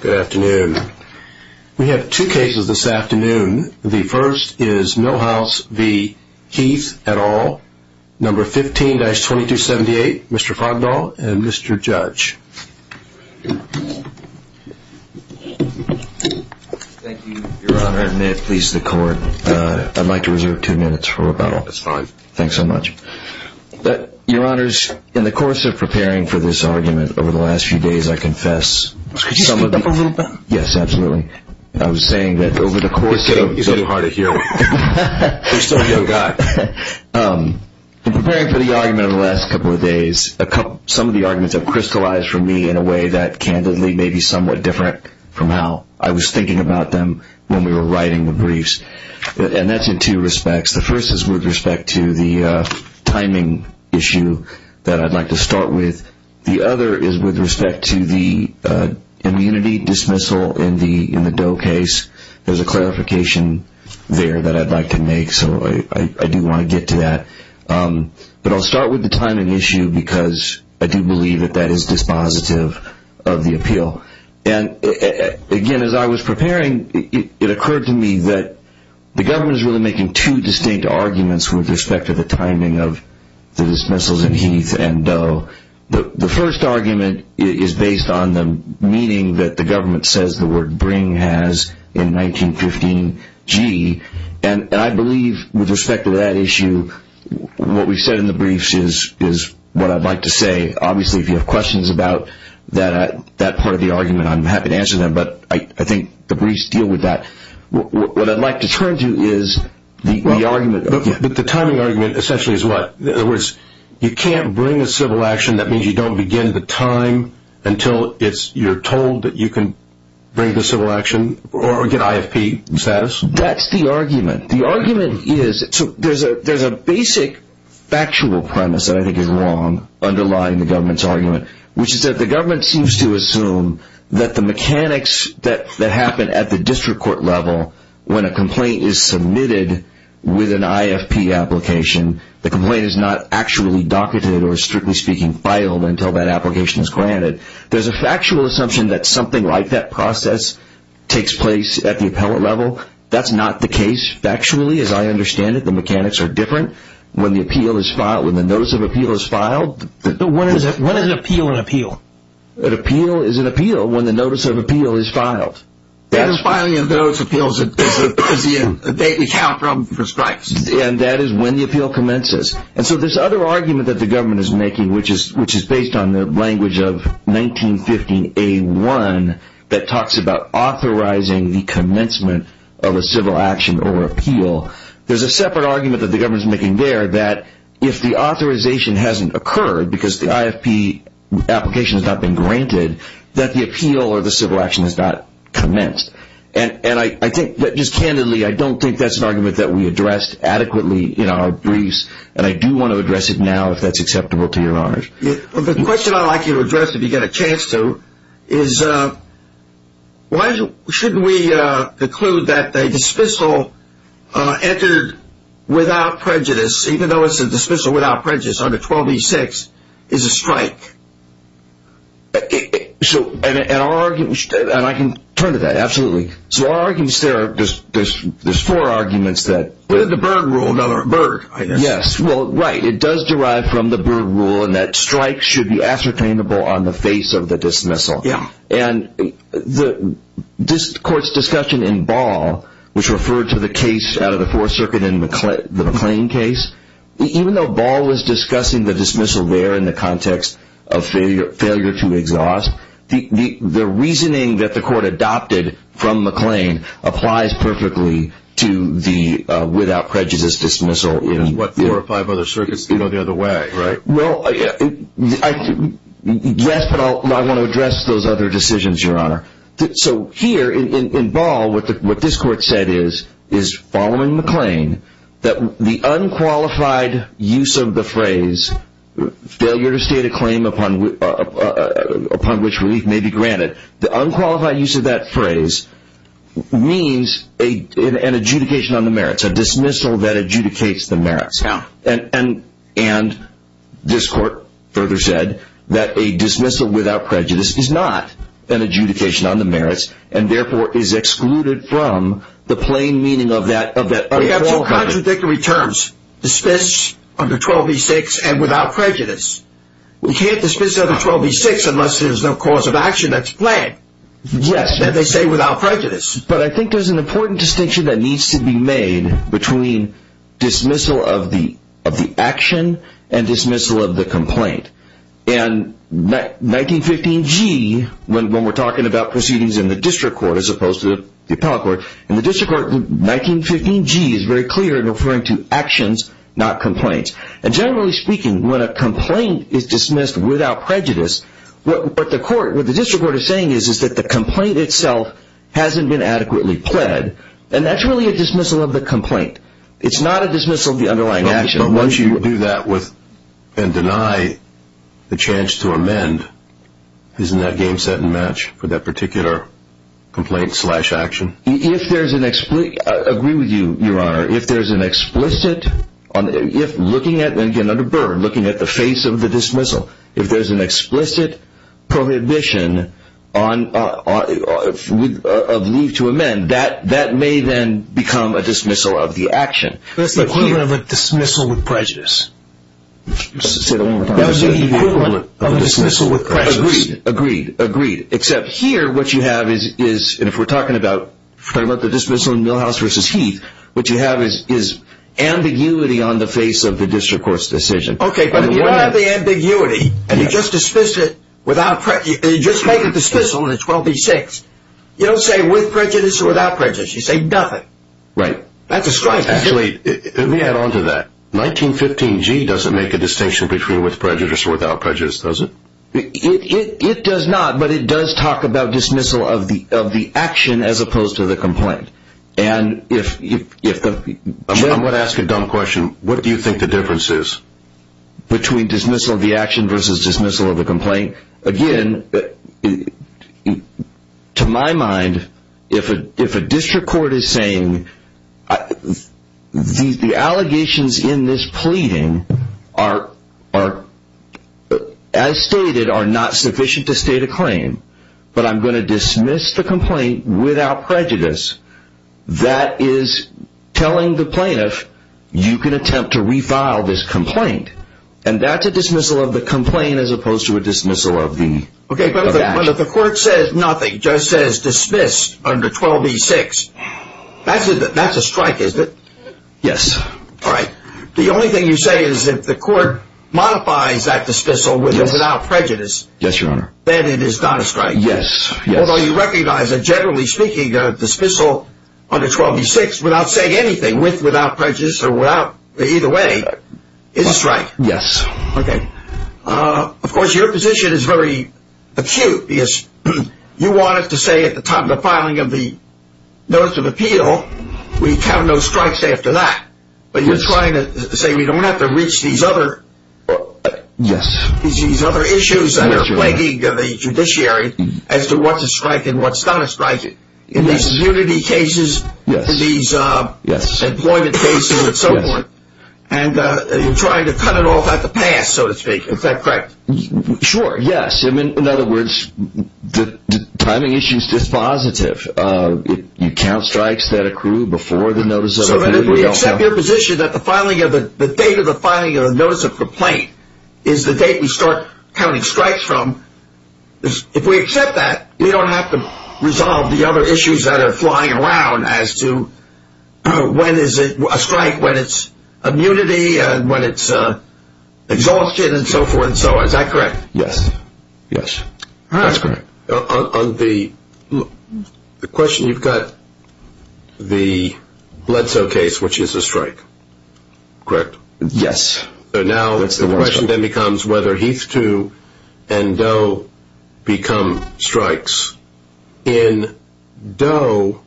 Good afternoon. We have two cases this afternoon. The first is Milhouse v.Heath, etal, No.15-2278,Mr.Fogdahl, and Mr.Judge. Thank you, Your Honor.May it please the Court.I'd like to reserve two minutes for rebuttal.It's fine. Thanks so much. Your Honors, in the course of preparing for this argument over the last few days,I confess... Could you speak up a little bit? Yes, absolutely.I was saying that over the course of... It's getting hard to hear. There's still no guy. In preparing for the argument over the last couple of days, some of the arguments have crystallized for me in a way that candidly may be somewhat different from how I was thinking about them when we were writing the briefs. And that's in two respects. The first is with respect to the timing issue that I'd like to start with. The other is with respect to the immunity dismissal in the Doe case. There's a clarification there that I'd like to make, so I do want to get to that. But I'll start with the timing issue because I do believe that that is dispositive of the appeal. Again, as I was preparing, it occurred to me that the government is really making two distinct arguments with respect to the timing of the dismissals in Heath and Doe. The first argument is based on the meaning that the government says the word bring has in 1915G. And I believe with respect to that issue, what we've said in the briefs is what I'd like to say. Obviously, if you have questions about that part of the argument, I'm happy to answer them. But I think the briefs deal with that. What I'd like to turn to is the argument... But the timing argument essentially is what? In other words, you can't bring a civil action, that means you don't begin the time until you're told that you can bring the civil action or get IFP status? That's the argument. The argument is... There's a basic factual premise that I think is wrong underlying the government's argument, which is that the government seems to assume that the mechanics that happen at the district court level, when a complaint is submitted with an IFP application, the complaint is not actually docketed or, strictly speaking, filed until that application is granted. There's a factual assumption that something like that process takes place at the appellate level. That's not the case. Factually, as I understand it, the mechanics are different. When the appeal is filed, when the notice of appeal is filed... When is an appeal an appeal? An appeal is an appeal when the notice of appeal is filed. It is filing of those appeals that is the date we count from for strikes. And that is when the appeal commences. And so this other argument that the government is making, which is based on the language of 1915A1 that talks about authorizing the commencement of a civil action or appeal, there's a separate argument that the government is making there that if the authorization hasn't occurred, because the IFP application has not been granted, that the appeal or the civil action has not commenced. And I think that, just candidly,I don't think that's an argument that we addressed adequately in our briefs. And I do want to address it now, if that's acceptable to your honor. The question I'd like you to address, if you get a chance to, is why shouldn't we conclude that a dismissal entered without prejudice, even though it's a dismissal without prejudice under 12E6,is a strike? So, and I can turn to that, absolutely. So our arguments there, there's four arguments that... The Berg rule, Berg,I guess. Yes, well, right, it does derive from the Berg rule, and that strikes should be ascertainable on the face of the dismissal. Yeah. And this court's discussion in Ball, which referred to the case out of the Fourth Circuit in the McLean case, even though Ball was discussing the dismissal there in the context of failure to exhaust, the reasoning that the court adopted from McLean applies perfectly to the without prejudice dismissal. In what, four or five other circuits, you know, the other way, right? Well, yes, but I want to address those other decisions, your honor. So here, in Ball, what this court said is, following McLean, that the unqualified use of the phrase, failure to state a claim upon which relief may be granted, the unqualified use of that phrase means an adjudication on the merits, a dismissal that adjudicates the merits. Yeah. And this court further said that a dismissal without prejudice is not an adjudication on the merits and therefore is excluded from the plain meaning of that unqualified use. We have two contradictory terms, dispense under 12b-6 and without prejudice. We can't dismiss under 12b-6 unless there's no cause of action that's planned. Yes. Then they say without prejudice. But I think there's an important distinction that needs to be made between dismissal of the action and dismissal of the complaint. And 1915G,when we're talking about proceedings in the district court as opposed to the appellate court, in the district court,1915G is very clear in referring to actions, not complaints. And generally speaking, when a complaint is dismissed without prejudice, what the district court is saying is that the complaint itself hasn't been adequately pled, and that's really a dismissal of the complaint. It's not a dismissal of the underlying action. But once you do that and deny the chance to amend, isn't that game set and match for that particular complaint slash action? I agree with you, Your Honor. If there's an explicit, looking at the face of the dismissal, if there's an explicit prohibition of leave to amend, that may then become a dismissal of the action. That's the equivalent of a dismissal with prejudice. Say that one more time. That's the equivalent of a dismissal with prejudice. Agreed, agreed, agreed. Except here, what you have is, and if we're talking about the dismissal in Milhouse v. Heath, what you have is ambiguity on the face of the district court's decision. Okay, but if you have the ambiguity, and you just make a dismissal in 12b-6, you don't say with prejudice or without prejudice. You say nothing. Right. That's a strike. Actually, let me add on to that. 1915g doesn't make a distinction between with prejudice or without prejudice, does it? It does not, but it does talk about dismissal of the action as opposed to the complaint. And if the... I'm going to ask a dumb question. What do you think the difference is? Between dismissal of the action versus dismissal of the complaint? Again, to my mind, if a district court is saying, the allegations in this pleading are, as stated, are not sufficient to state a claim, but I'm going to dismiss the complaint without prejudice, that is telling the plaintiff, you can attempt to refile this complaint. And that's a dismissal of the complaint as opposed to a dismissal of the action. Okay, but if the court says nothing, just says dismiss under 12b-6,that's a strike, isn't it? Yes. All right. The only thing you say is if the court modifies that dismissal without prejudice... Yes, Your Honor. ...then it is not a strike. Yes. Although you recognize that generally speaking,a dismissal under 12b-6 without saying anything, or either way, is a strike. Yes. Okay. Of course, your position is very acute because you wanted to say at the time of the filing of the notice of appeal, we count no strikes after that. But you're trying to say we don't have to reach these other issues that are plaguing the judiciary as to what's a strike and what's not a strike. In these unity cases, these employment cases and so forth, and you're trying to cut it off at the pass, so to speak. Is that correct? Sure, yes. In other words, the timing issue is dispositive. You count strikes that accrue before the notice of appeal. So if we accept your position that the date of the filing of the notice of complaint is the date we start counting strikes from, if we accept that, we don't have to resolve the other issues that are flying around as to when is it a strike, when it's immunity, when it's exhaustion and so forth and so on. Is that correct? Yes. Yes. That's correct. On the question, you've got the Bledsoe case, which is a strike. Correct? Yes. So now the question then becomes whether Heath 2 and Doe become strikes. In Doe,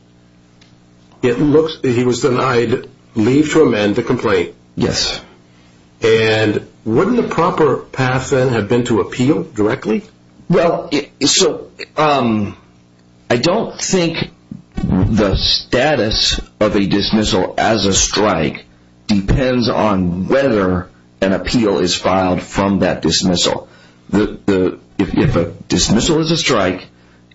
he was denied leave to amend the complaint. Yes. And wouldn't the proper path then have been to appeal directly? I don't think the status of a dismissal as a strike depends on whether an appeal is filed from that dismissal. If a dismissal is a strike,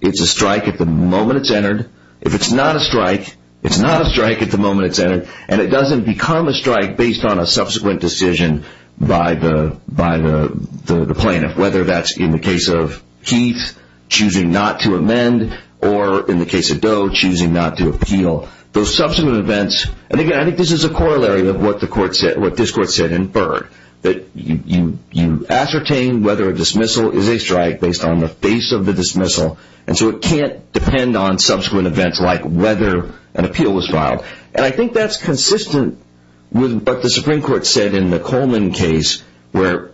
it's a strike at the moment it's entered. If it's not a strike, it's not a strike at the moment it's entered. And it doesn't become a strike based on a subsequent decision by the plaintiff, whether that's in the case of Heath choosing not to amend or in the case of Doe choosing not to appeal. Those subsequent events, and again I think this is a corollary of what this court said in Byrd, that you ascertain whether a dismissal is a strike based on the face of the dismissal and so it can't depend on subsequent events like whether an appeal was filed. And I think that's consistent with what the Supreme Court said in the Coleman case, where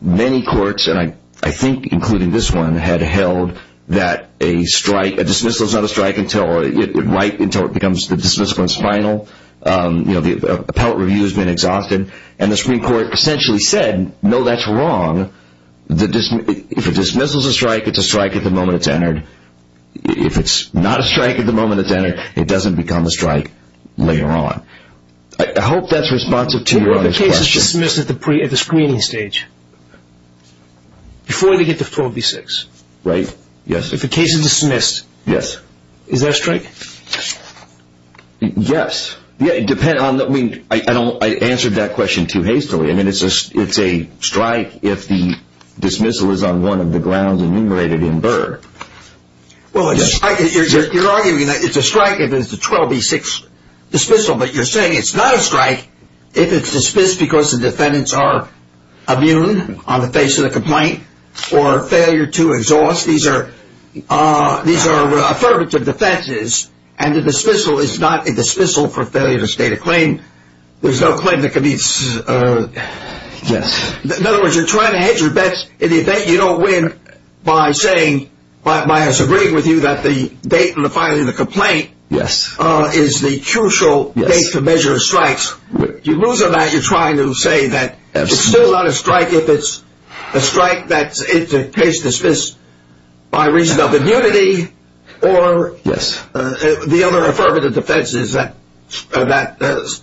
many courts, and I think including this one, had held that a strike,a dismissal is not a strike until it becomes the dismissal is final. You know, the appellate review has been exhausted. And the Supreme Court essentially said, no, that's wrong. If a dismissal is a strike, it's a strike at the moment it's entered. If it's not a strike at the moment it's entered, it doesn't become a strike later on. I hope that's responsive to your other question. What if the case is dismissed at the screening stage? Before they get to 4B6? Right, yes. If the case is dismissed? Yes. Is there a strike? Yes. I answered that question too hastily. I mean, it's a strike if the dismissal is on one of the grounds enumerated in Burr. Well, you're arguing that it's a strike if it's a 12B6 dismissal, but you're saying it's not a strike if it's dismissed because the defendants are immune on the face of the complaint or failure to exhaust. These are affirmative defenses, and a dismissal is not a dismissal for failure to state a claim. There's no claim that can be... Yes. In other words, you're trying to hedge your bets in the event you don't win by saying, by us agreeing with you that the date in the filing of the complaint is the crucial date to measure a strike. Yes. If you lose a bet, you're trying to say that it's still not a strike if it's a strike that's in case dismissed by reason of immunity or the other affirmative defenses that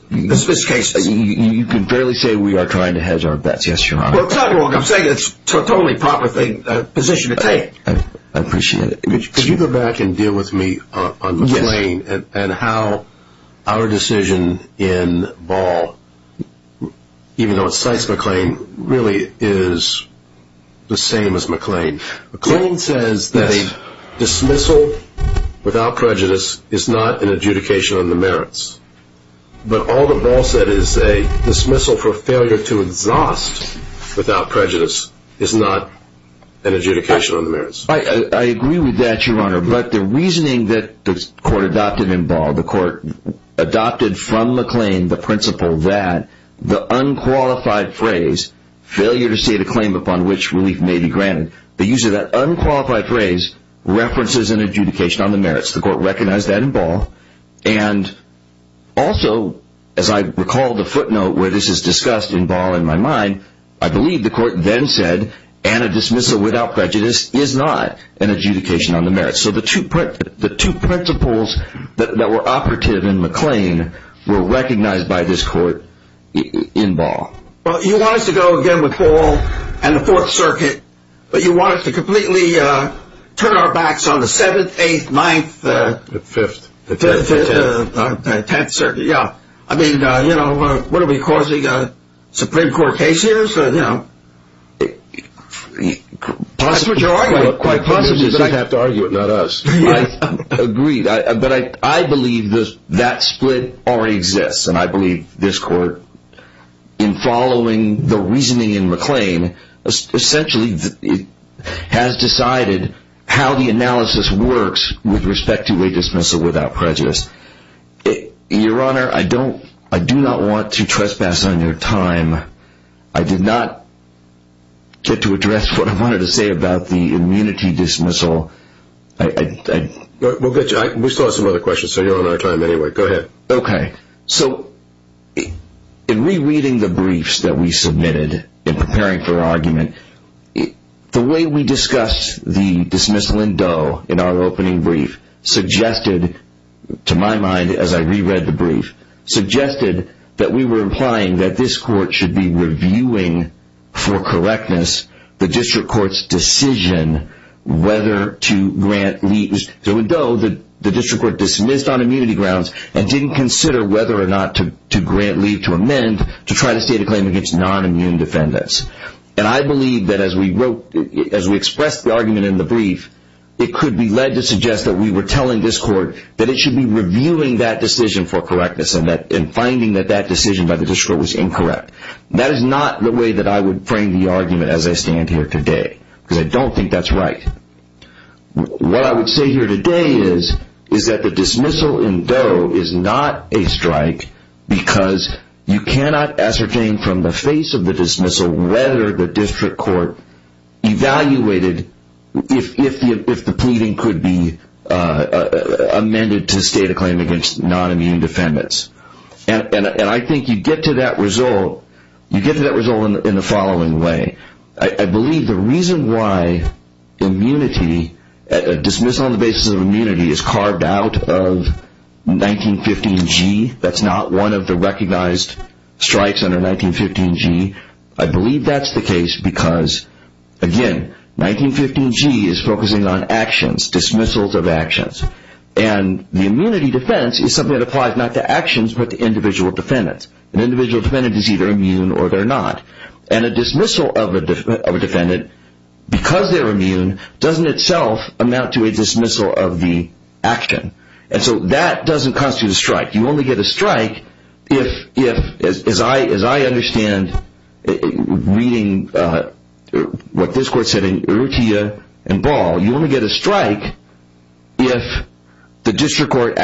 dismiss cases. You can fairly say we are trying to hedge our bets, yes, Your Honor. Well, it's not wrong. I'm saying it's a totally proper position to take. I appreciate it. Could you go back and deal with me on McLean and how our decision in Ball, even though it cites McLean, really is the same as McLean. McLean says that a dismissal without prejudice is not an adjudication on the merits, but all that Ball said is a dismissal for failure to exhaust without prejudice is not an adjudication on the merits. I agree with that, Your Honor, but the reasoning that the court adopted in Ball, the court adopted from McLean the principle that the unqualified phrase, failure to state a claim upon which relief may be granted, the use of that unqualified phrase references an adjudication on the merits. The court recognized that in Ball. And also, as I recall the footnote where this is discussed in Ball in my mind, I believe the court then said, and a dismissal without prejudice is not an adjudication on the merits. So the two principles that were operative in McLean were recognized by this court in Ball. Well, you want us to go again with Ball and the Fourth Circuit, but you want us to completely turn our backs on the Seventh, Eighth, Ninth, Fifth, Tenth Circuit. Yeah,I mean, you know, what are we, causing a Supreme Court case here? That's what you're arguing. Quite possibly, but I have to argue it, not us. I agree, but I believe that split already exists. And I believe this court, in following the reasoning in McLean, essentially has decided how the analysis works with respect to a dismissal without prejudice. Your Honor,I do not want to trespass on your time. I did not get to address what I wanted to say about the immunity dismissal. We still have some other questions, so you're on our time anyway. Go ahead. Okay. So, in rereading the briefs that we submitted in preparing for argument, the way we discussed the dismissal in Doe, in our opening brief, suggested, to my mind, as I reread the brief, suggested that we were implying that this court should be reviewing for correctness the district court's decision whether to grant leave. So, in Doe, the district court dismissed on immunity grounds and didn't consider whether or not to grant leave to amend to try to state a claim against non-immune defendants. And I believe that as we expressed the argument in the brief, it could be led to suggest that we were telling this court that it should be reviewing that decision for correctness and finding that that decision by the district court was incorrect. That is not the way that I would frame the argument as I stand here today because I don't think that's right. What I would say here today is that the dismissal in Doe is not a strike because you cannot ascertain from the face of the dismissal whether the district court evaluated if the pleading could be amended to state a claim against non-immune defendants. And I think you get to that result in the following way. I believe the reason why immunity, a dismissal on the basis of immunity, is carved out of 1915G. That's not one of the recognized strikes under 1915G. I believe that's the case because, again, 1915G is focusing on actions, dismissals of actions. And the immunity defense is something that applies not to actions but to individual defendants. An individual defendant is either immune or they're not. And a dismissal of a defendant, because they're immune, doesn't itself amount to a dismissal of the action. And so that doesn't constitute a strike. You only get a strike if, as I understand, reading what this court said in Urtia and Ball, you only get a strike if the district court,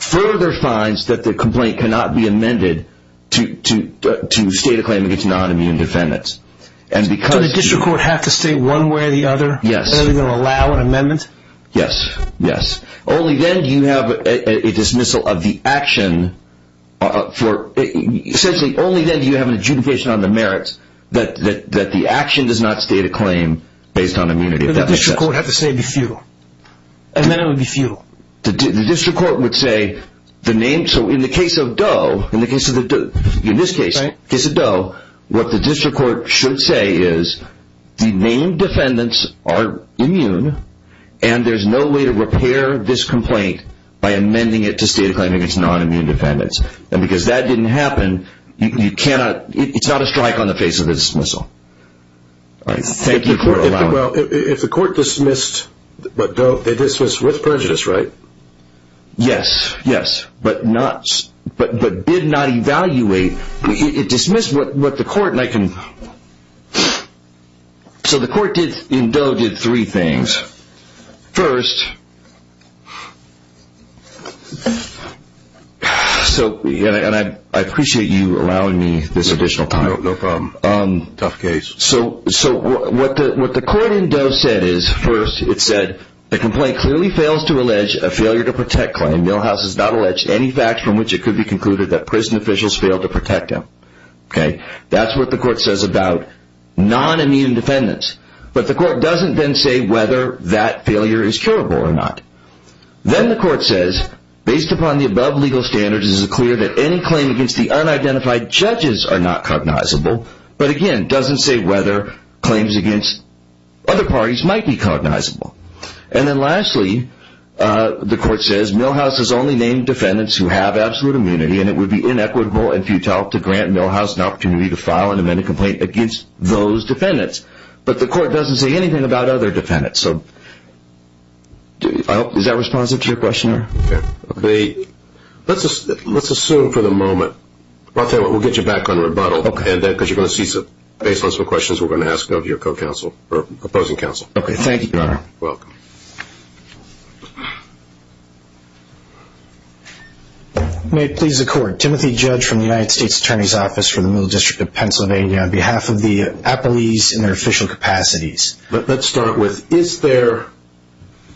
further finds that the complaint cannot be amended to state a claim against non-immune defendants. So the district court has to state one way or the other? Yes. Are they going to allow an amendment? Yes, yes. Only then do you have a dismissal of the action. Essentially, only then do you have an adjudication on the merits that the action does not state a claim based on immunity. But the district court would have to say it would be futile. And then it would be futile. The district court would say the name. So in the case of Doe, in this case, the case of Doe, what the district court should say is the named defendants are immune and there's no way to repair this complaint by amending it to state a claim against non-immune defendants. And because that didn't happen, it's not a strike on the face of a dismissal. Thank you for allowing it. Well, if the court dismissed with prejudice, right? Yes, yes, but did not evaluate. It dismissed what the court, and I can. So the court in Doe did three things. First, and I appreciate you allowing me this additional time. No problem. Tough case. So what the court in Doe said is, first, it said, the complaint clearly fails to allege a failure to protect claim. Milhouse has not alleged any facts from which it could be concluded that prison officials failed to protect him. That's what the court says about non-immune defendants. But the court doesn't then say whether that failure is curable or not. Then the court says, based upon the above legal standards, it is clear that any claim against the unidentified judges are not cognizable, but again, doesn't say whether claims against other parties might be cognizable. And then lastly, the court says, Milhouse has only named defendants who have absolute immunity, and it would be inequitable and futile to grant Milhouse an opportunity to file an amended complaint against those defendants. But the court doesn't say anything about other defendants. Is that responsive to your question? Let's assume for the moment. We'll get you back on rebuttal. Okay. Because you're going to see some questions we're going to ask of your opposing counsel. Okay, thank you, Your Honor. You're welcome. May it please the court, Timothy Judge from the United States Attorney's Office for the Middle District of Pennsylvania on behalf of the appellees in their official capacities. Let's start with, is there,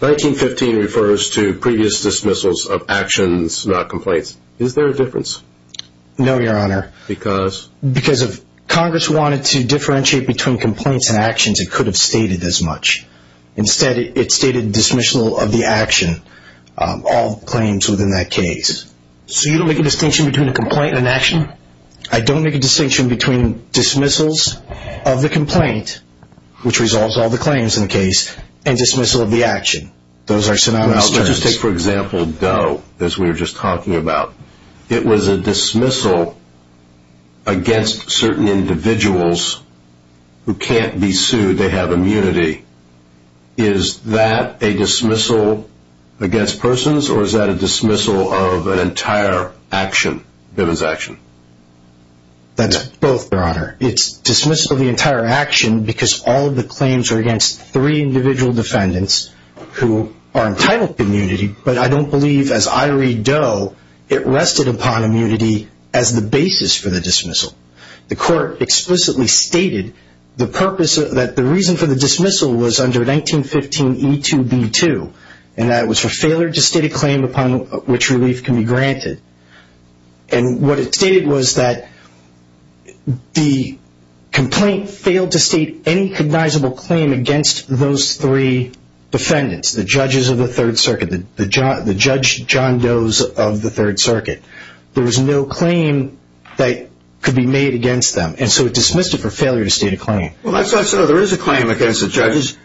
1915 refers to previous dismissals of actions, not complaints. Is there a difference? No, Your Honor. Because? Because if Congress wanted to differentiate between complaints and actions, it could have stated as much. Instead, it stated dismissal of the action, all claims within that case. So you don't make a distinction between a complaint and an action? I don't make a distinction between dismissals of the complaint, which resolves all the claims in the case, and dismissal of the action. Those are synonymous terms. Let's just take, for example, Doe, as we were just talking about. It was a dismissal against certain individuals who can't be sued. They have immunity. Is that a dismissal against persons, or is that a dismissal of an entire action? It was action. That's both, Your Honor. It's dismissal of the entire action, because all of the claims are against three individual defendants who are entitled to immunity. But I don't believe, as I read Doe, it rested upon immunity as the basis for the dismissal. The court explicitly stated that the reason for the dismissal was under 1915 E2B2, and that it was for failure to state a claim upon which relief can be granted. And what it stated was that the complaint failed to state any cognizable claim against those three defendants, the judges of the Third Circuit, the Judge John Doe of the Third Circuit. There was no claim that could be made against them. And so it dismissed it for failure to state a claim. Well, that's not so. There is a claim against the judges.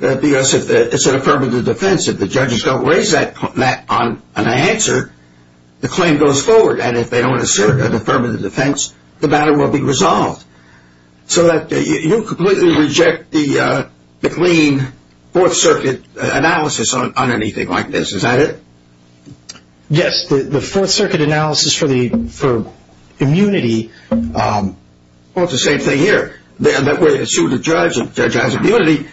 It's an affirmative defense. If the judges don't raise that on an answer, the claim goes forward. So you completely reject the McLean Fourth Circuit analysis on anything like this. Is that it? Yes. The Fourth Circuit analysis for immunity, well, it's the same thing here. That we're suing the judge, and the judge has immunity,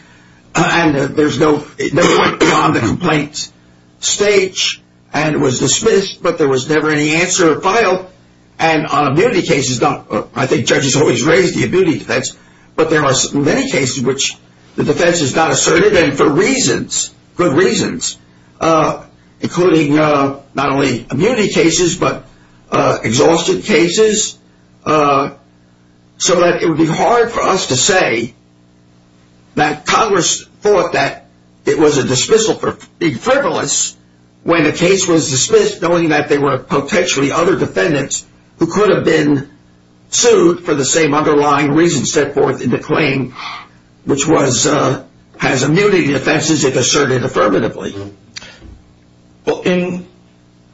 and it never went beyond the complaint stage, and it was dismissed, but there was never any answer or file. And on immunity cases, I think judges always raise the immunity defense, but there are many cases in which the defense is not assertive and for reasons, good reasons, including not only immunity cases but exhausted cases, so that it would be hard for us to say that Congress thought that it was a dismissal for being frivolous when a case was dismissed knowing that there were potentially other defendants who could have been sued for the same underlying reasons set forth in the claim, which has immunity defenses if asserted affirmatively. Well,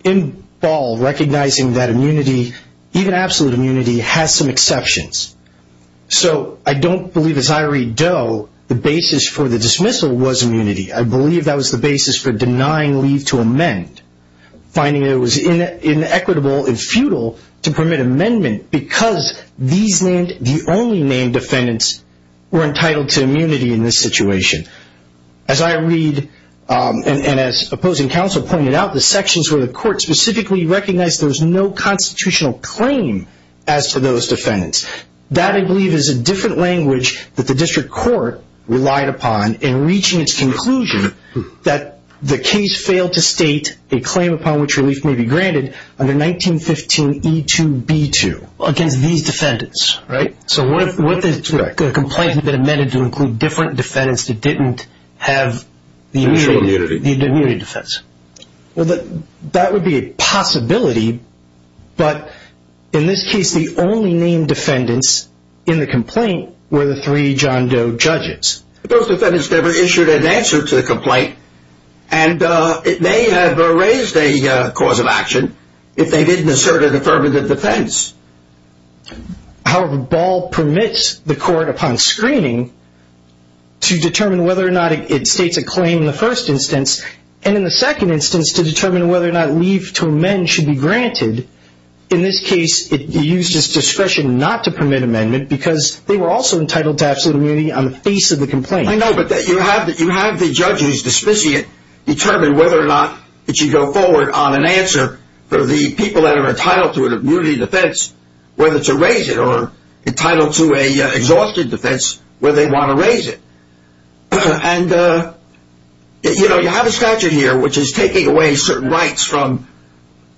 in Ball, recognizing that immunity, even absolute immunity, has some exceptions. So I don't believe, as I read Doe, the basis for the dismissal was immunity. I believe that was the basis for denying leave to amend, finding it was inequitable and futile to permit amendment because the only named defendants were entitled to immunity in this situation. As I read, and as opposing counsel pointed out, the sections where the court specifically recognized there was no constitutional claim as to those defendants. That, I believe, is a different language that the district court relied upon in reaching its conclusion that the case failed to state a claim upon which relief may be granted under 1915 E2B2 against these defendants, right? So what if the complaint had been amended to include different defendants that didn't have the immunity defense? Well, that would be a possibility, but in this case, the only named defendants in the complaint were the three John Doe judges. Those defendants never issued an answer to the complaint, and it may have raised a cause of action if they didn't assert an affirmative defense. However, Ball permits the court, upon screening, to determine whether or not it states a claim in the first instance, and in the second instance, to determine whether or not leave to amend should be granted. In this case, it used its discretion not to permit amendment because they were also entitled to absolute immunity on the face of the complaint. I know, but you have the judge who's dismissing it determine whether or not it should go forward on an answer for the people that are entitled to an immunity defense, whether to raise it or entitled to an exhausted defense where they want to raise it. And, you know, you have a statute here which is taking away certain rights from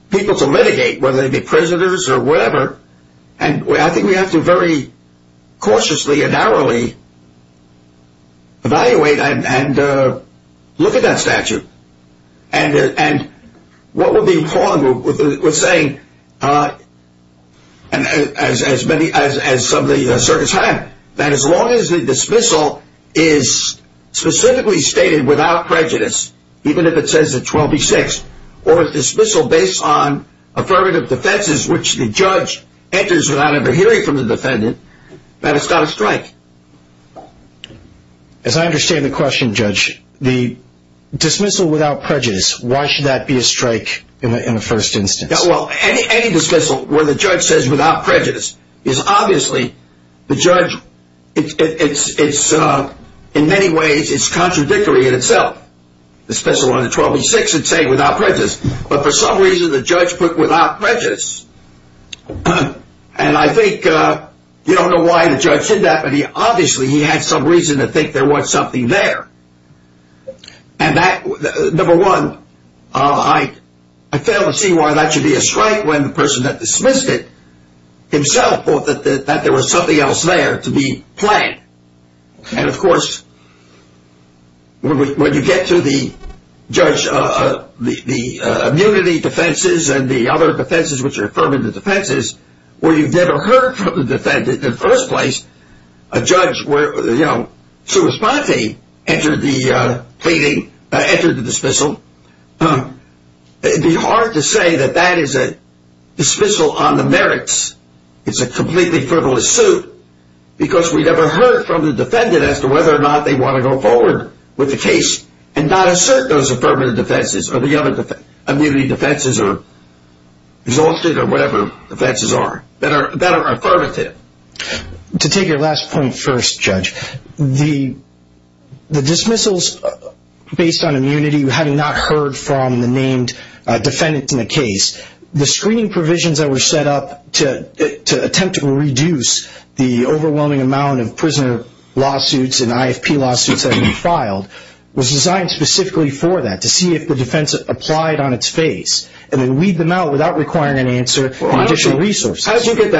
people to litigate, whether they be prisoners or whatever, and I think we have to very cautiously and narrowly evaluate and look at that statute. And what would be wrong with saying, as some of the circuits have, that as long as the dismissal is specifically stated without prejudice, even if it says a 12B6, or a dismissal based on affirmative defenses, which the judge enters without ever hearing from the defendant, that it's not a strike? As I understand the question, Judge, the dismissal without prejudice, why should that be a strike in the first instance? Well, any dismissal where the judge says without prejudice is obviously, the judge, it's, in many ways, it's contradictory in itself. The dismissal under 12B6 would say without prejudice, but for some reason the judge put without prejudice, and I think, you don't know why the judge said that, but obviously he had some reason to think there was something there. And that, number one, I fail to see why that should be a strike when the person that dismissed it, himself, thought that there was something else there to be planned. And, of course, when you get to the immunity defenses and the other defenses which are affirmative defenses, where you've never heard from the defendant in the first place, a judge where, you know, Sue Esponte entered the dismissal, it would be hard to say that that is a dismissal on the merits. It's a completely frivolous suit because we never heard from the defendant as to whether or not they want to go forward with the case and not assert those affirmative defenses or the other immunity defenses or exhausted or whatever defenses are that are affirmative. To take your last point first, Judge, the dismissals based on immunity, having not heard from the named defendants in the case, the screening provisions that were set up to attempt to reduce the overwhelming amount of prisoner lawsuits and IFP lawsuits that have been filed was designed specifically for that, to see if the defense applied on its face and then weed them out without requiring an answer and additional resources. How did you get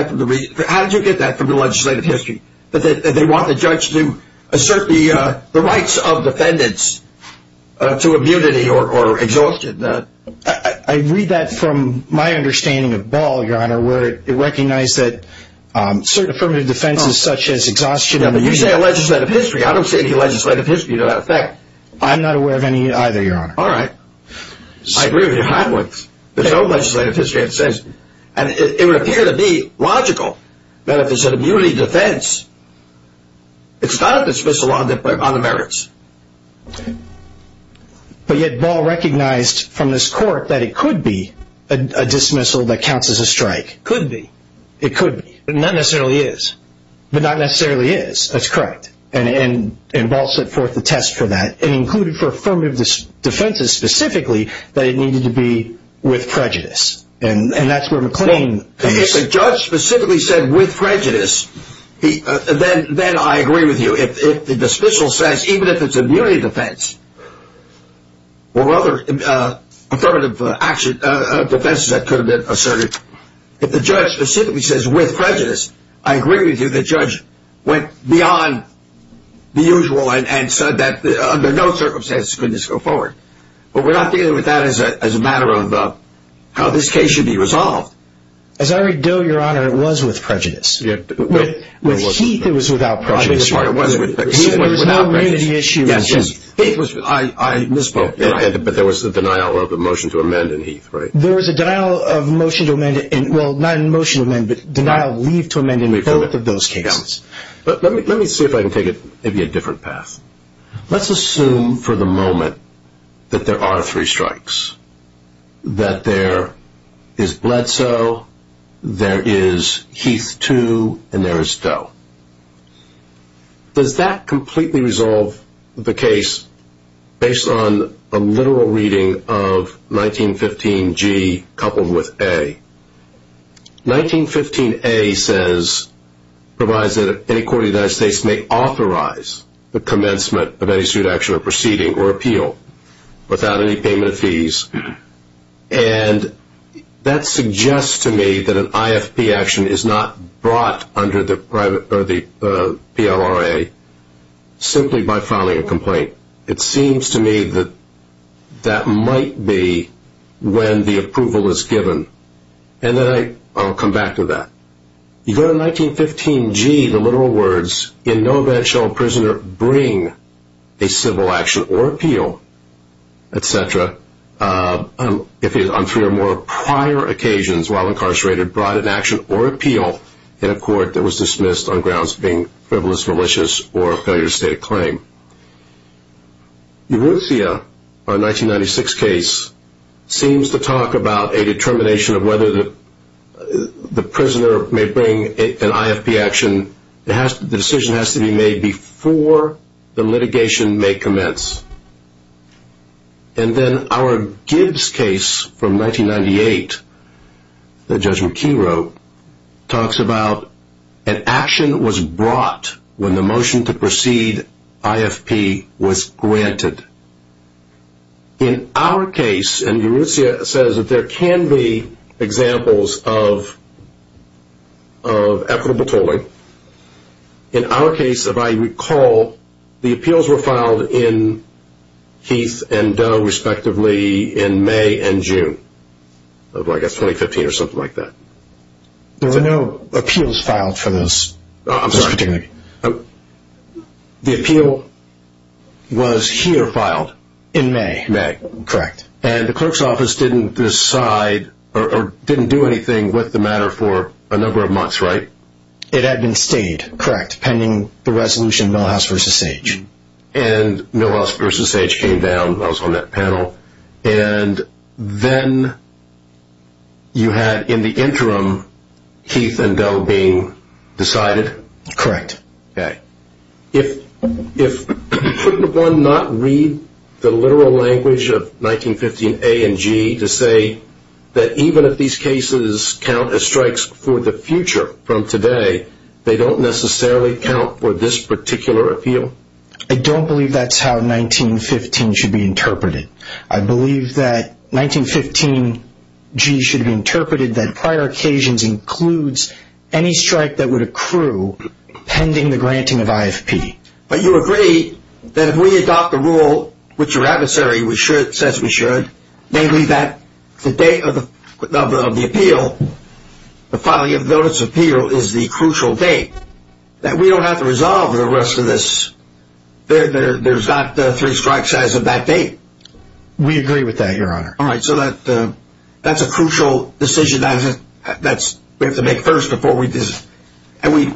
that from the legislative history, that they want the judge to assert the rights of defendants to immunity or exhaustion? I read that from my understanding of Ball, Your Honor, where it recognized that certain affirmative defenses such as exhaustion... Yeah, but you say a legislative history. I don't see any legislative history to that effect. I'm not aware of any either, Your Honor. All right. I agree with you hotly. There's no legislative history that says... And it would appear to be logical that if it's an immunity defense, it's not a dismissal on the merits. But yet Ball recognized from this court that it could be a dismissal that counts as a strike. Could be. It could be. But not necessarily is. But not necessarily is. That's correct. And Ball set forth the test for that and included for affirmative defenses specifically that it needed to be with prejudice. And that's where McLean... If the judge specifically said, with prejudice, then I agree with you. If the dismissal says, even if it's immunity defense or other affirmative defenses that could have been asserted, if the judge specifically says, with prejudice, I agree with you, the judge went beyond the usual and said that under no circumstances could this go forward. But we're not dealing with that as a matter of how this case should be resolved. As I already do, Your Honor, it was with prejudice. With Heath, it was without prejudice. I think that's part of it. Heath was without prejudice. There was no immunity issue. I misspoke. But there was a denial of the motion to amend in Heath, right? There was a denial of motion to amend in... Well, not a motion to amend, but denial of leave to amend in both of those cases. But let me see if I can take it maybe a different path. Let's assume for the moment that there are three strikes, that there is Bledsoe, there is Heath 2, and there is Doe. Does that completely resolve the case based on a literal reading of 1915G coupled with A? 1915A says, provides that any court in the United States may authorize the commencement of any suit, action, or proceeding or appeal without any payment of fees. And that suggests to me that an IFP action is not brought under the PLRA simply by filing a complaint. It seems to me that that might be when the approval is given. And then I'll come back to that. You go to 1915G, the literal words, in no event shall a prisoner bring a civil action or appeal, etc., on three or more prior occasions while incarcerated, brought an action or appeal in a court that was dismissed on grounds of being frivolous, malicious, or a failure to state a claim. Eruzia, our 1996 case, seems to talk about a determination of whether the prisoner may bring an IFP action. The decision has to be made before the litigation may commence. And then our Gibbs case from 1998, that Judge McKee wrote, talks about an action was brought when the motion to proceed IFP was granted. In our case, and Eruzia says that there can be examples of efflubitoling, in our case, if I recall, the appeals were filed in Heath and Doe, respectively, in May and June of, I guess, 2015 or something like that. There were no appeals filed for this. I'm sorry. The appeal was here filed. In May. May. Correct. And the clerk's office didn't decide or didn't do anything with the matter for a number of months, right? It had been stayed. Correct. Pending the resolution, Millhouse v. Sage. And Millhouse v. Sage came down. I was on that panel. And then you had, in the interim, Heath and Doe being decided? Correct. Okay. If, for one, not read the literal language of 1915A and G to say that even if these cases count as strikes for the future from today, they don't necessarily count for this particular appeal? I don't believe that's how 1915 should be interpreted. I believe that 1915G should be interpreted that prior occasions includes any strike that would accrue pending the granting of IFP. But you agree that if we adopt the rule which your adversary says we should, namely that the date of the appeal, the filing of the notice of appeal is the crucial date, that we don't have to resolve the rest of this. There's not three strikes as of that date. We agree with that, Your Honor. All right. So that's a crucial decision that we have to make first before we do this. And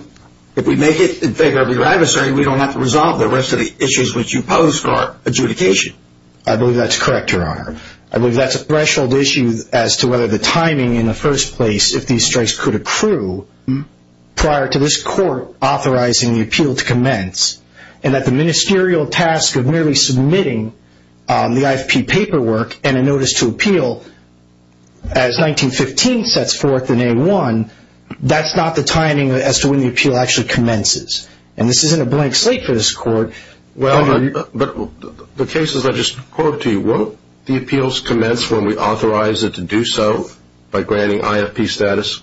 if we make it in favor of your adversary, we don't have to resolve the rest of the issues which you pose for adjudication. I believe that's correct, Your Honor. I believe that's a threshold issue as to whether the timing in the first place, if these strikes could accrue, prior to this court authorizing the appeal to commence, and that the ministerial task of merely submitting the IFP paperwork and a notice to appeal as 1915 sets forth in A1, that's not the timing as to when the appeal actually commences. And this isn't a blank slate for this court. But the cases I just quoted to you, won't the appeals commence when we authorize it to do so by granting IFP status?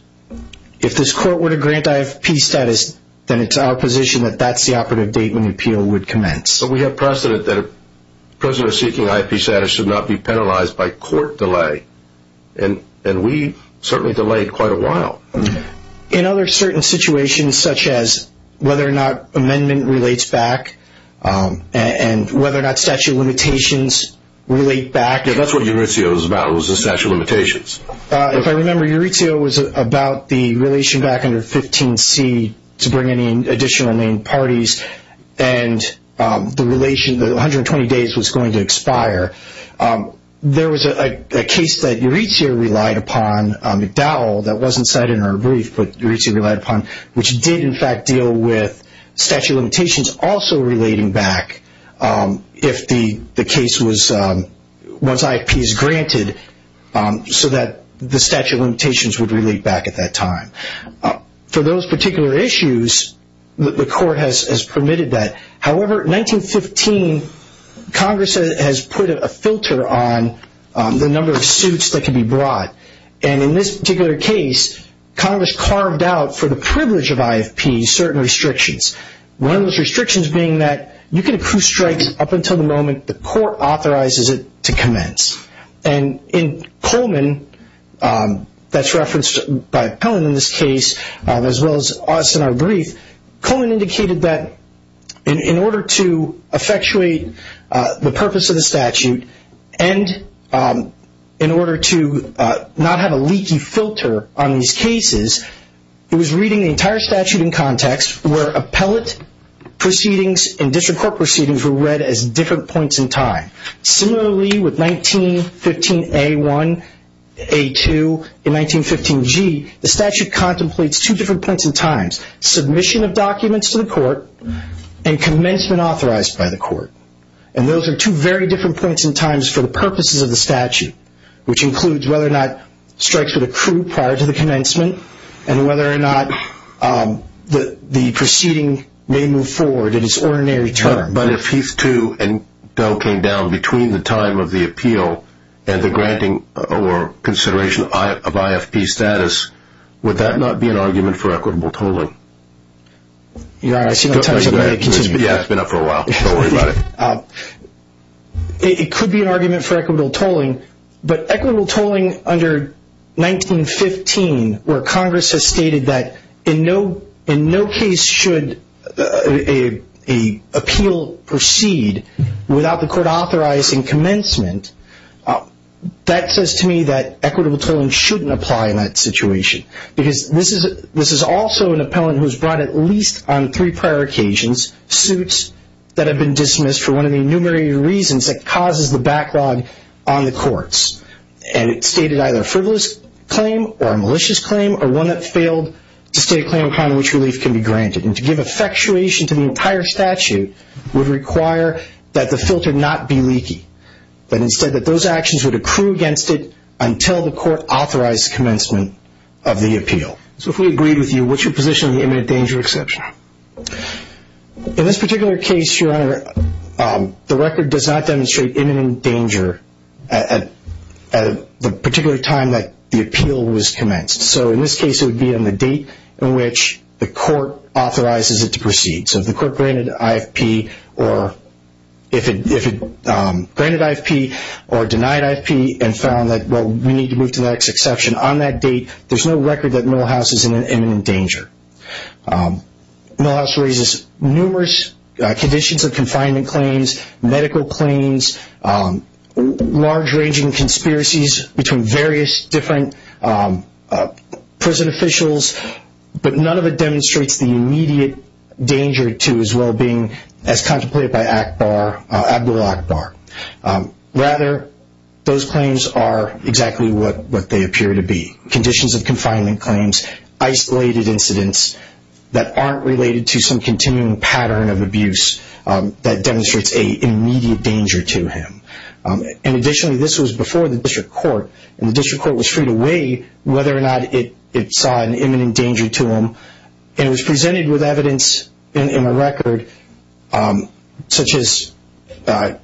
If this court were to grant IFP status, then it's our position that that's the operative date when the appeal would commence. But we have precedent that a prisoner seeking IFP status should not be penalized by court delay. And we certainly delayed quite a while. In other certain situations, such as whether or not amendment relates back, and whether or not statute of limitations relate back. Yeah, that's what EURITSEO is about, is the statute of limitations. If I remember, EURITSEO was about the relation back under 15C to bring in additional main parties, and the 120 days was going to expire. There was a case that EURITSEO relied upon, McDowell, that wasn't cited in our brief, but EURITSEO relied upon, which did, in fact, deal with statute of limitations also relating back, if the case was, once IFP is granted, so that the statute of limitations would relate back at that time. For those particular issues, the court has permitted that. However, 1915, Congress has put a filter on the number of suits that can be brought. And in this particular case, Congress carved out, for the privilege of IFP, certain restrictions. One of those restrictions being that you can approve strikes up until the moment the court authorizes it to commence. And in Coleman, that's referenced by Pellin in this case, as well as us in our brief, Coleman indicated that in order to effectuate the purpose of the statute, and in order to not have a leaky filter on these cases, he was reading the entire statute in context where appellate proceedings and district court proceedings were read as different points in time. Similarly, with 1915A1, A2, and 1915G, the statute contemplates two different points in time, submission of documents to the court, and commencement authorized by the court. And those are two very different points in time for the purposes of the statute, which includes whether or not strikes would accrue prior to the commencement, and whether or not the proceeding may move forward in its ordinary term. But if Heath 2 and Pell came down between the time of the appeal and the granting or consideration of IFP status, would that not be an argument for equitable tolling? I see no time, so I'm going to continue. Yeah, it's been up for a while. Don't worry about it. It could be an argument for equitable tolling, but equitable tolling under 1915, where Congress has stated that in no case should an appeal proceed without the court authorizing commencement, that says to me that equitable tolling shouldn't apply in that situation. Because this is also an appellant who has brought, at least on three prior occasions, suits that have been dismissed for one of the innumerated reasons that causes the backlog on the courts. And it stated either a frivolous claim or a malicious claim, or one that failed to state a claim upon which relief can be granted. And to give effectuation to the entire statute would require that the filter not be leaky, but instead that those actions would accrue against it until the court authorized commencement of the appeal. So if we agreed with you, what's your position on the imminent danger exception? In this particular case, Your Honor, the record does not demonstrate imminent danger at the particular time that the appeal was commenced. So in this case, it would be on the date on which the court authorizes it to proceed. So if the court granted IFP or denied IFP and found that, well, we need to move to the next exception on that date, there's no record that Millhouse is in an imminent danger. Millhouse raises numerous conditions of confinement claims, medical claims, large ranging conspiracies between various different prison officials, but none of it demonstrates the immediate danger to his well-being as contemplated by Abdul-Akbar. Rather, those claims are exactly what they appear to be, conditions of confinement claims, isolated incidents that aren't related to some continuing pattern of abuse that demonstrates an immediate danger to him. And additionally, this was before the district court, and the district court was free to weigh whether or not it saw an imminent danger to him, and it was presented with evidence in a record such as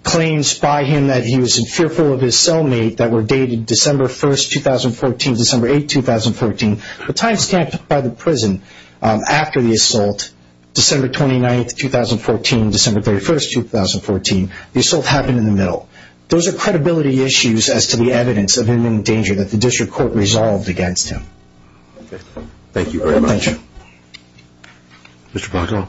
claims by him that he was fearful of his cellmate that were dated December 1st, 2014, December 8th, 2014, the time stamped by the prison after the assault, December 29th, 2014, December 31st, 2014. The assault happened in the middle. Those are credibility issues as to the evidence of imminent danger that the district court resolved against him. Okay. Thank you very much. Thank you. Mr. Paco.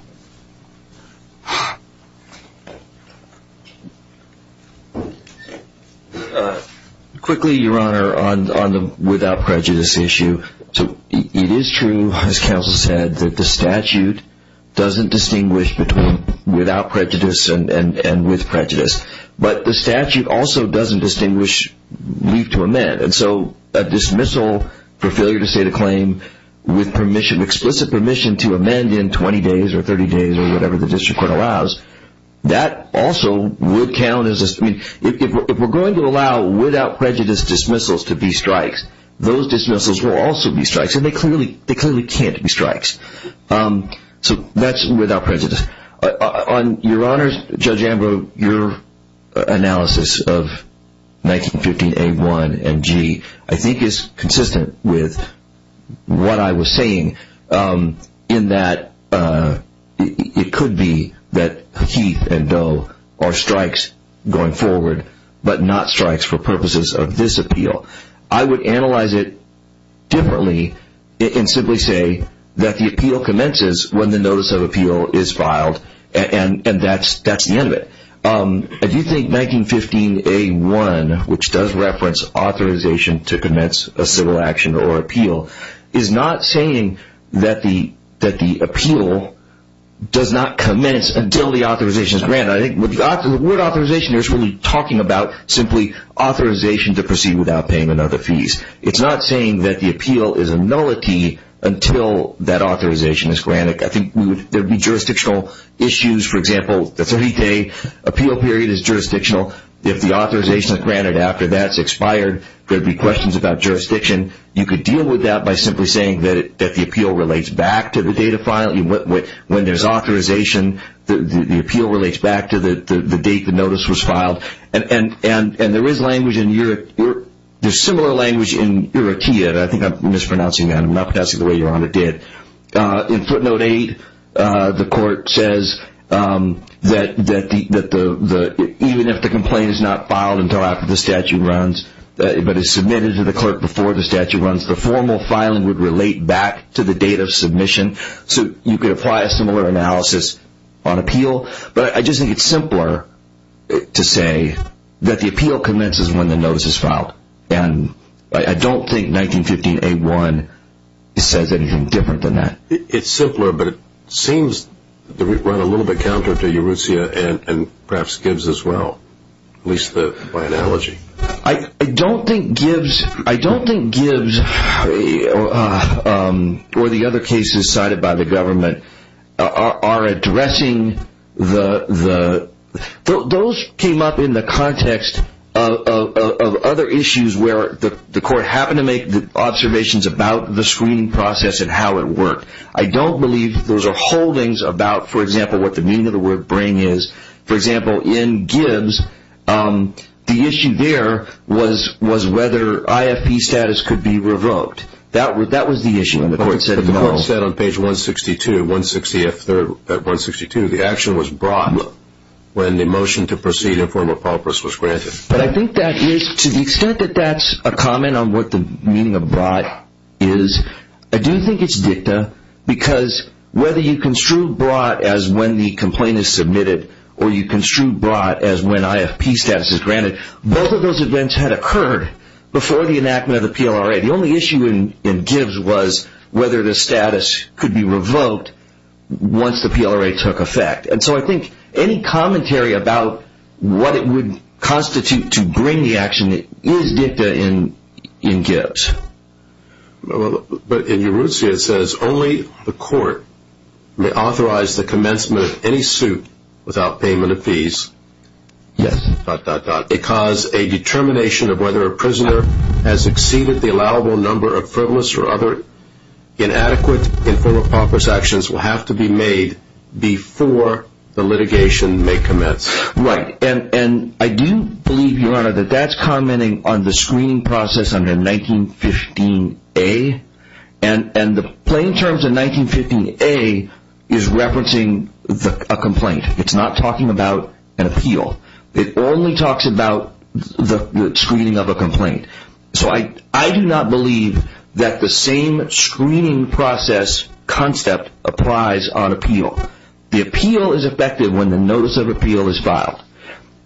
Quickly, Your Honor, on the without prejudice issue. It is true, as counsel said, that the statute doesn't distinguish between without prejudice and with prejudice, but the statute also doesn't distinguish leave to amend. And so a dismissal for failure to state a claim with explicit permission to amend in 20 days or 30 days or whatever the district court allows, that also would count as a, I mean, if we're going to allow without prejudice dismissals to be strikes, those dismissals will also be strikes, and they clearly can't be strikes. So that's without prejudice. On Your Honor's, Judge Ambrose, your analysis of 1915A1MG, I think is consistent with what I was saying in that it could be that Heath and Doe are strikes going forward, but not strikes for purposes of this appeal. I would analyze it differently and simply say that the appeal commences when the notice of appeal is filed, and that's the end of it. I do think 1915A1, which does reference authorization to commence a civil action or appeal, is not saying that the appeal does not commence until the authorization is granted. I think the word authorization is really talking about simply authorization to proceed without paying another fees. It's not saying that the appeal is a nullity until that authorization is granted. I think there would be jurisdictional issues. For example, the 30-day appeal period is jurisdictional. If the authorization is granted after that's expired, there would be questions about jurisdiction. You could deal with that by simply saying that the appeal relates back to the date of filing. When there's authorization, the appeal relates back to the date the notice was filed. There's similar language in Eurotea, and I think I'm mispronouncing that. I'm not pronouncing it the way Your Honor did. In footnote 8, the court says that even if the complaint is not filed until after the statute runs, but is submitted to the clerk before the statute runs, so you could apply a similar analysis on appeal. But I just think it's simpler to say that the appeal commences when the notice is filed. I don't think 1915A1 says anything different than that. It's simpler, but it seems to run a little bit counter to Eurotea and perhaps Gibbs as well, at least by analogy. I don't think Gibbs or the other cases cited by the government are addressing the... Those came up in the context of other issues where the court happened to make observations about the screening process and how it worked. I don't believe those are holdings about, for example, what the meaning of the word bring is. For example, in Gibbs, the issue there was whether IFP status could be revoked. That was the issue, and the court said no. But the court said on page 162, 160F3rd at 162, the action was brought when the motion to proceed in form of paupers was granted. But I think that is, to the extent that that's a comment on what the meaning of brought is, I do think it's dicta, because whether you construed brought as when the complaint is submitted, or you construed brought as when IFP status is granted, both of those events had occurred before the enactment of the PLRA. The only issue in Gibbs was whether the status could be revoked once the PLRA took effect. And so I think any commentary about what it would constitute to bring the action is dicta in Gibbs. But in Uruzia it says only the court may authorize the commencement of any suit without payment of fees. Dot, dot, dot. Because a determination of whether a prisoner has exceeded the allowable number of frivolous or other inadequate in form of paupers actions will have to be made before the litigation may commence. Right. And I do believe, Your Honor, that that's commenting on the screening process under 1915A. And the plain terms of 1915A is referencing a complaint. It's not talking about an appeal. So I do not believe that the same screening process concept applies on appeal. The appeal is effective when the notice of appeal is filed.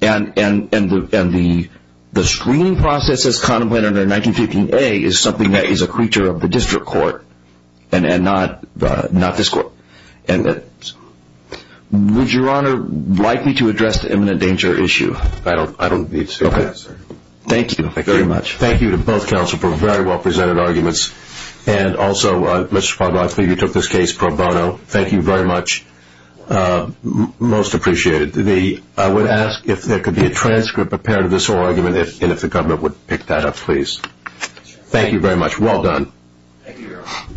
And the screening process as contemplated under 1915A is something that is a creature of the district court and not this court. And would Your Honor like me to address the imminent danger issue? Thank you. Thank you very much. Thank you to both counsel for very well presented arguments. And also, Mr. Pogba, I believe you took this case pro bono. Thank you very much. Most appreciated. I would ask if there could be a transcript, a parent of this whole argument, and if the government would pick that up, please. Thank you very much. Well done. Thank you, Your Honor.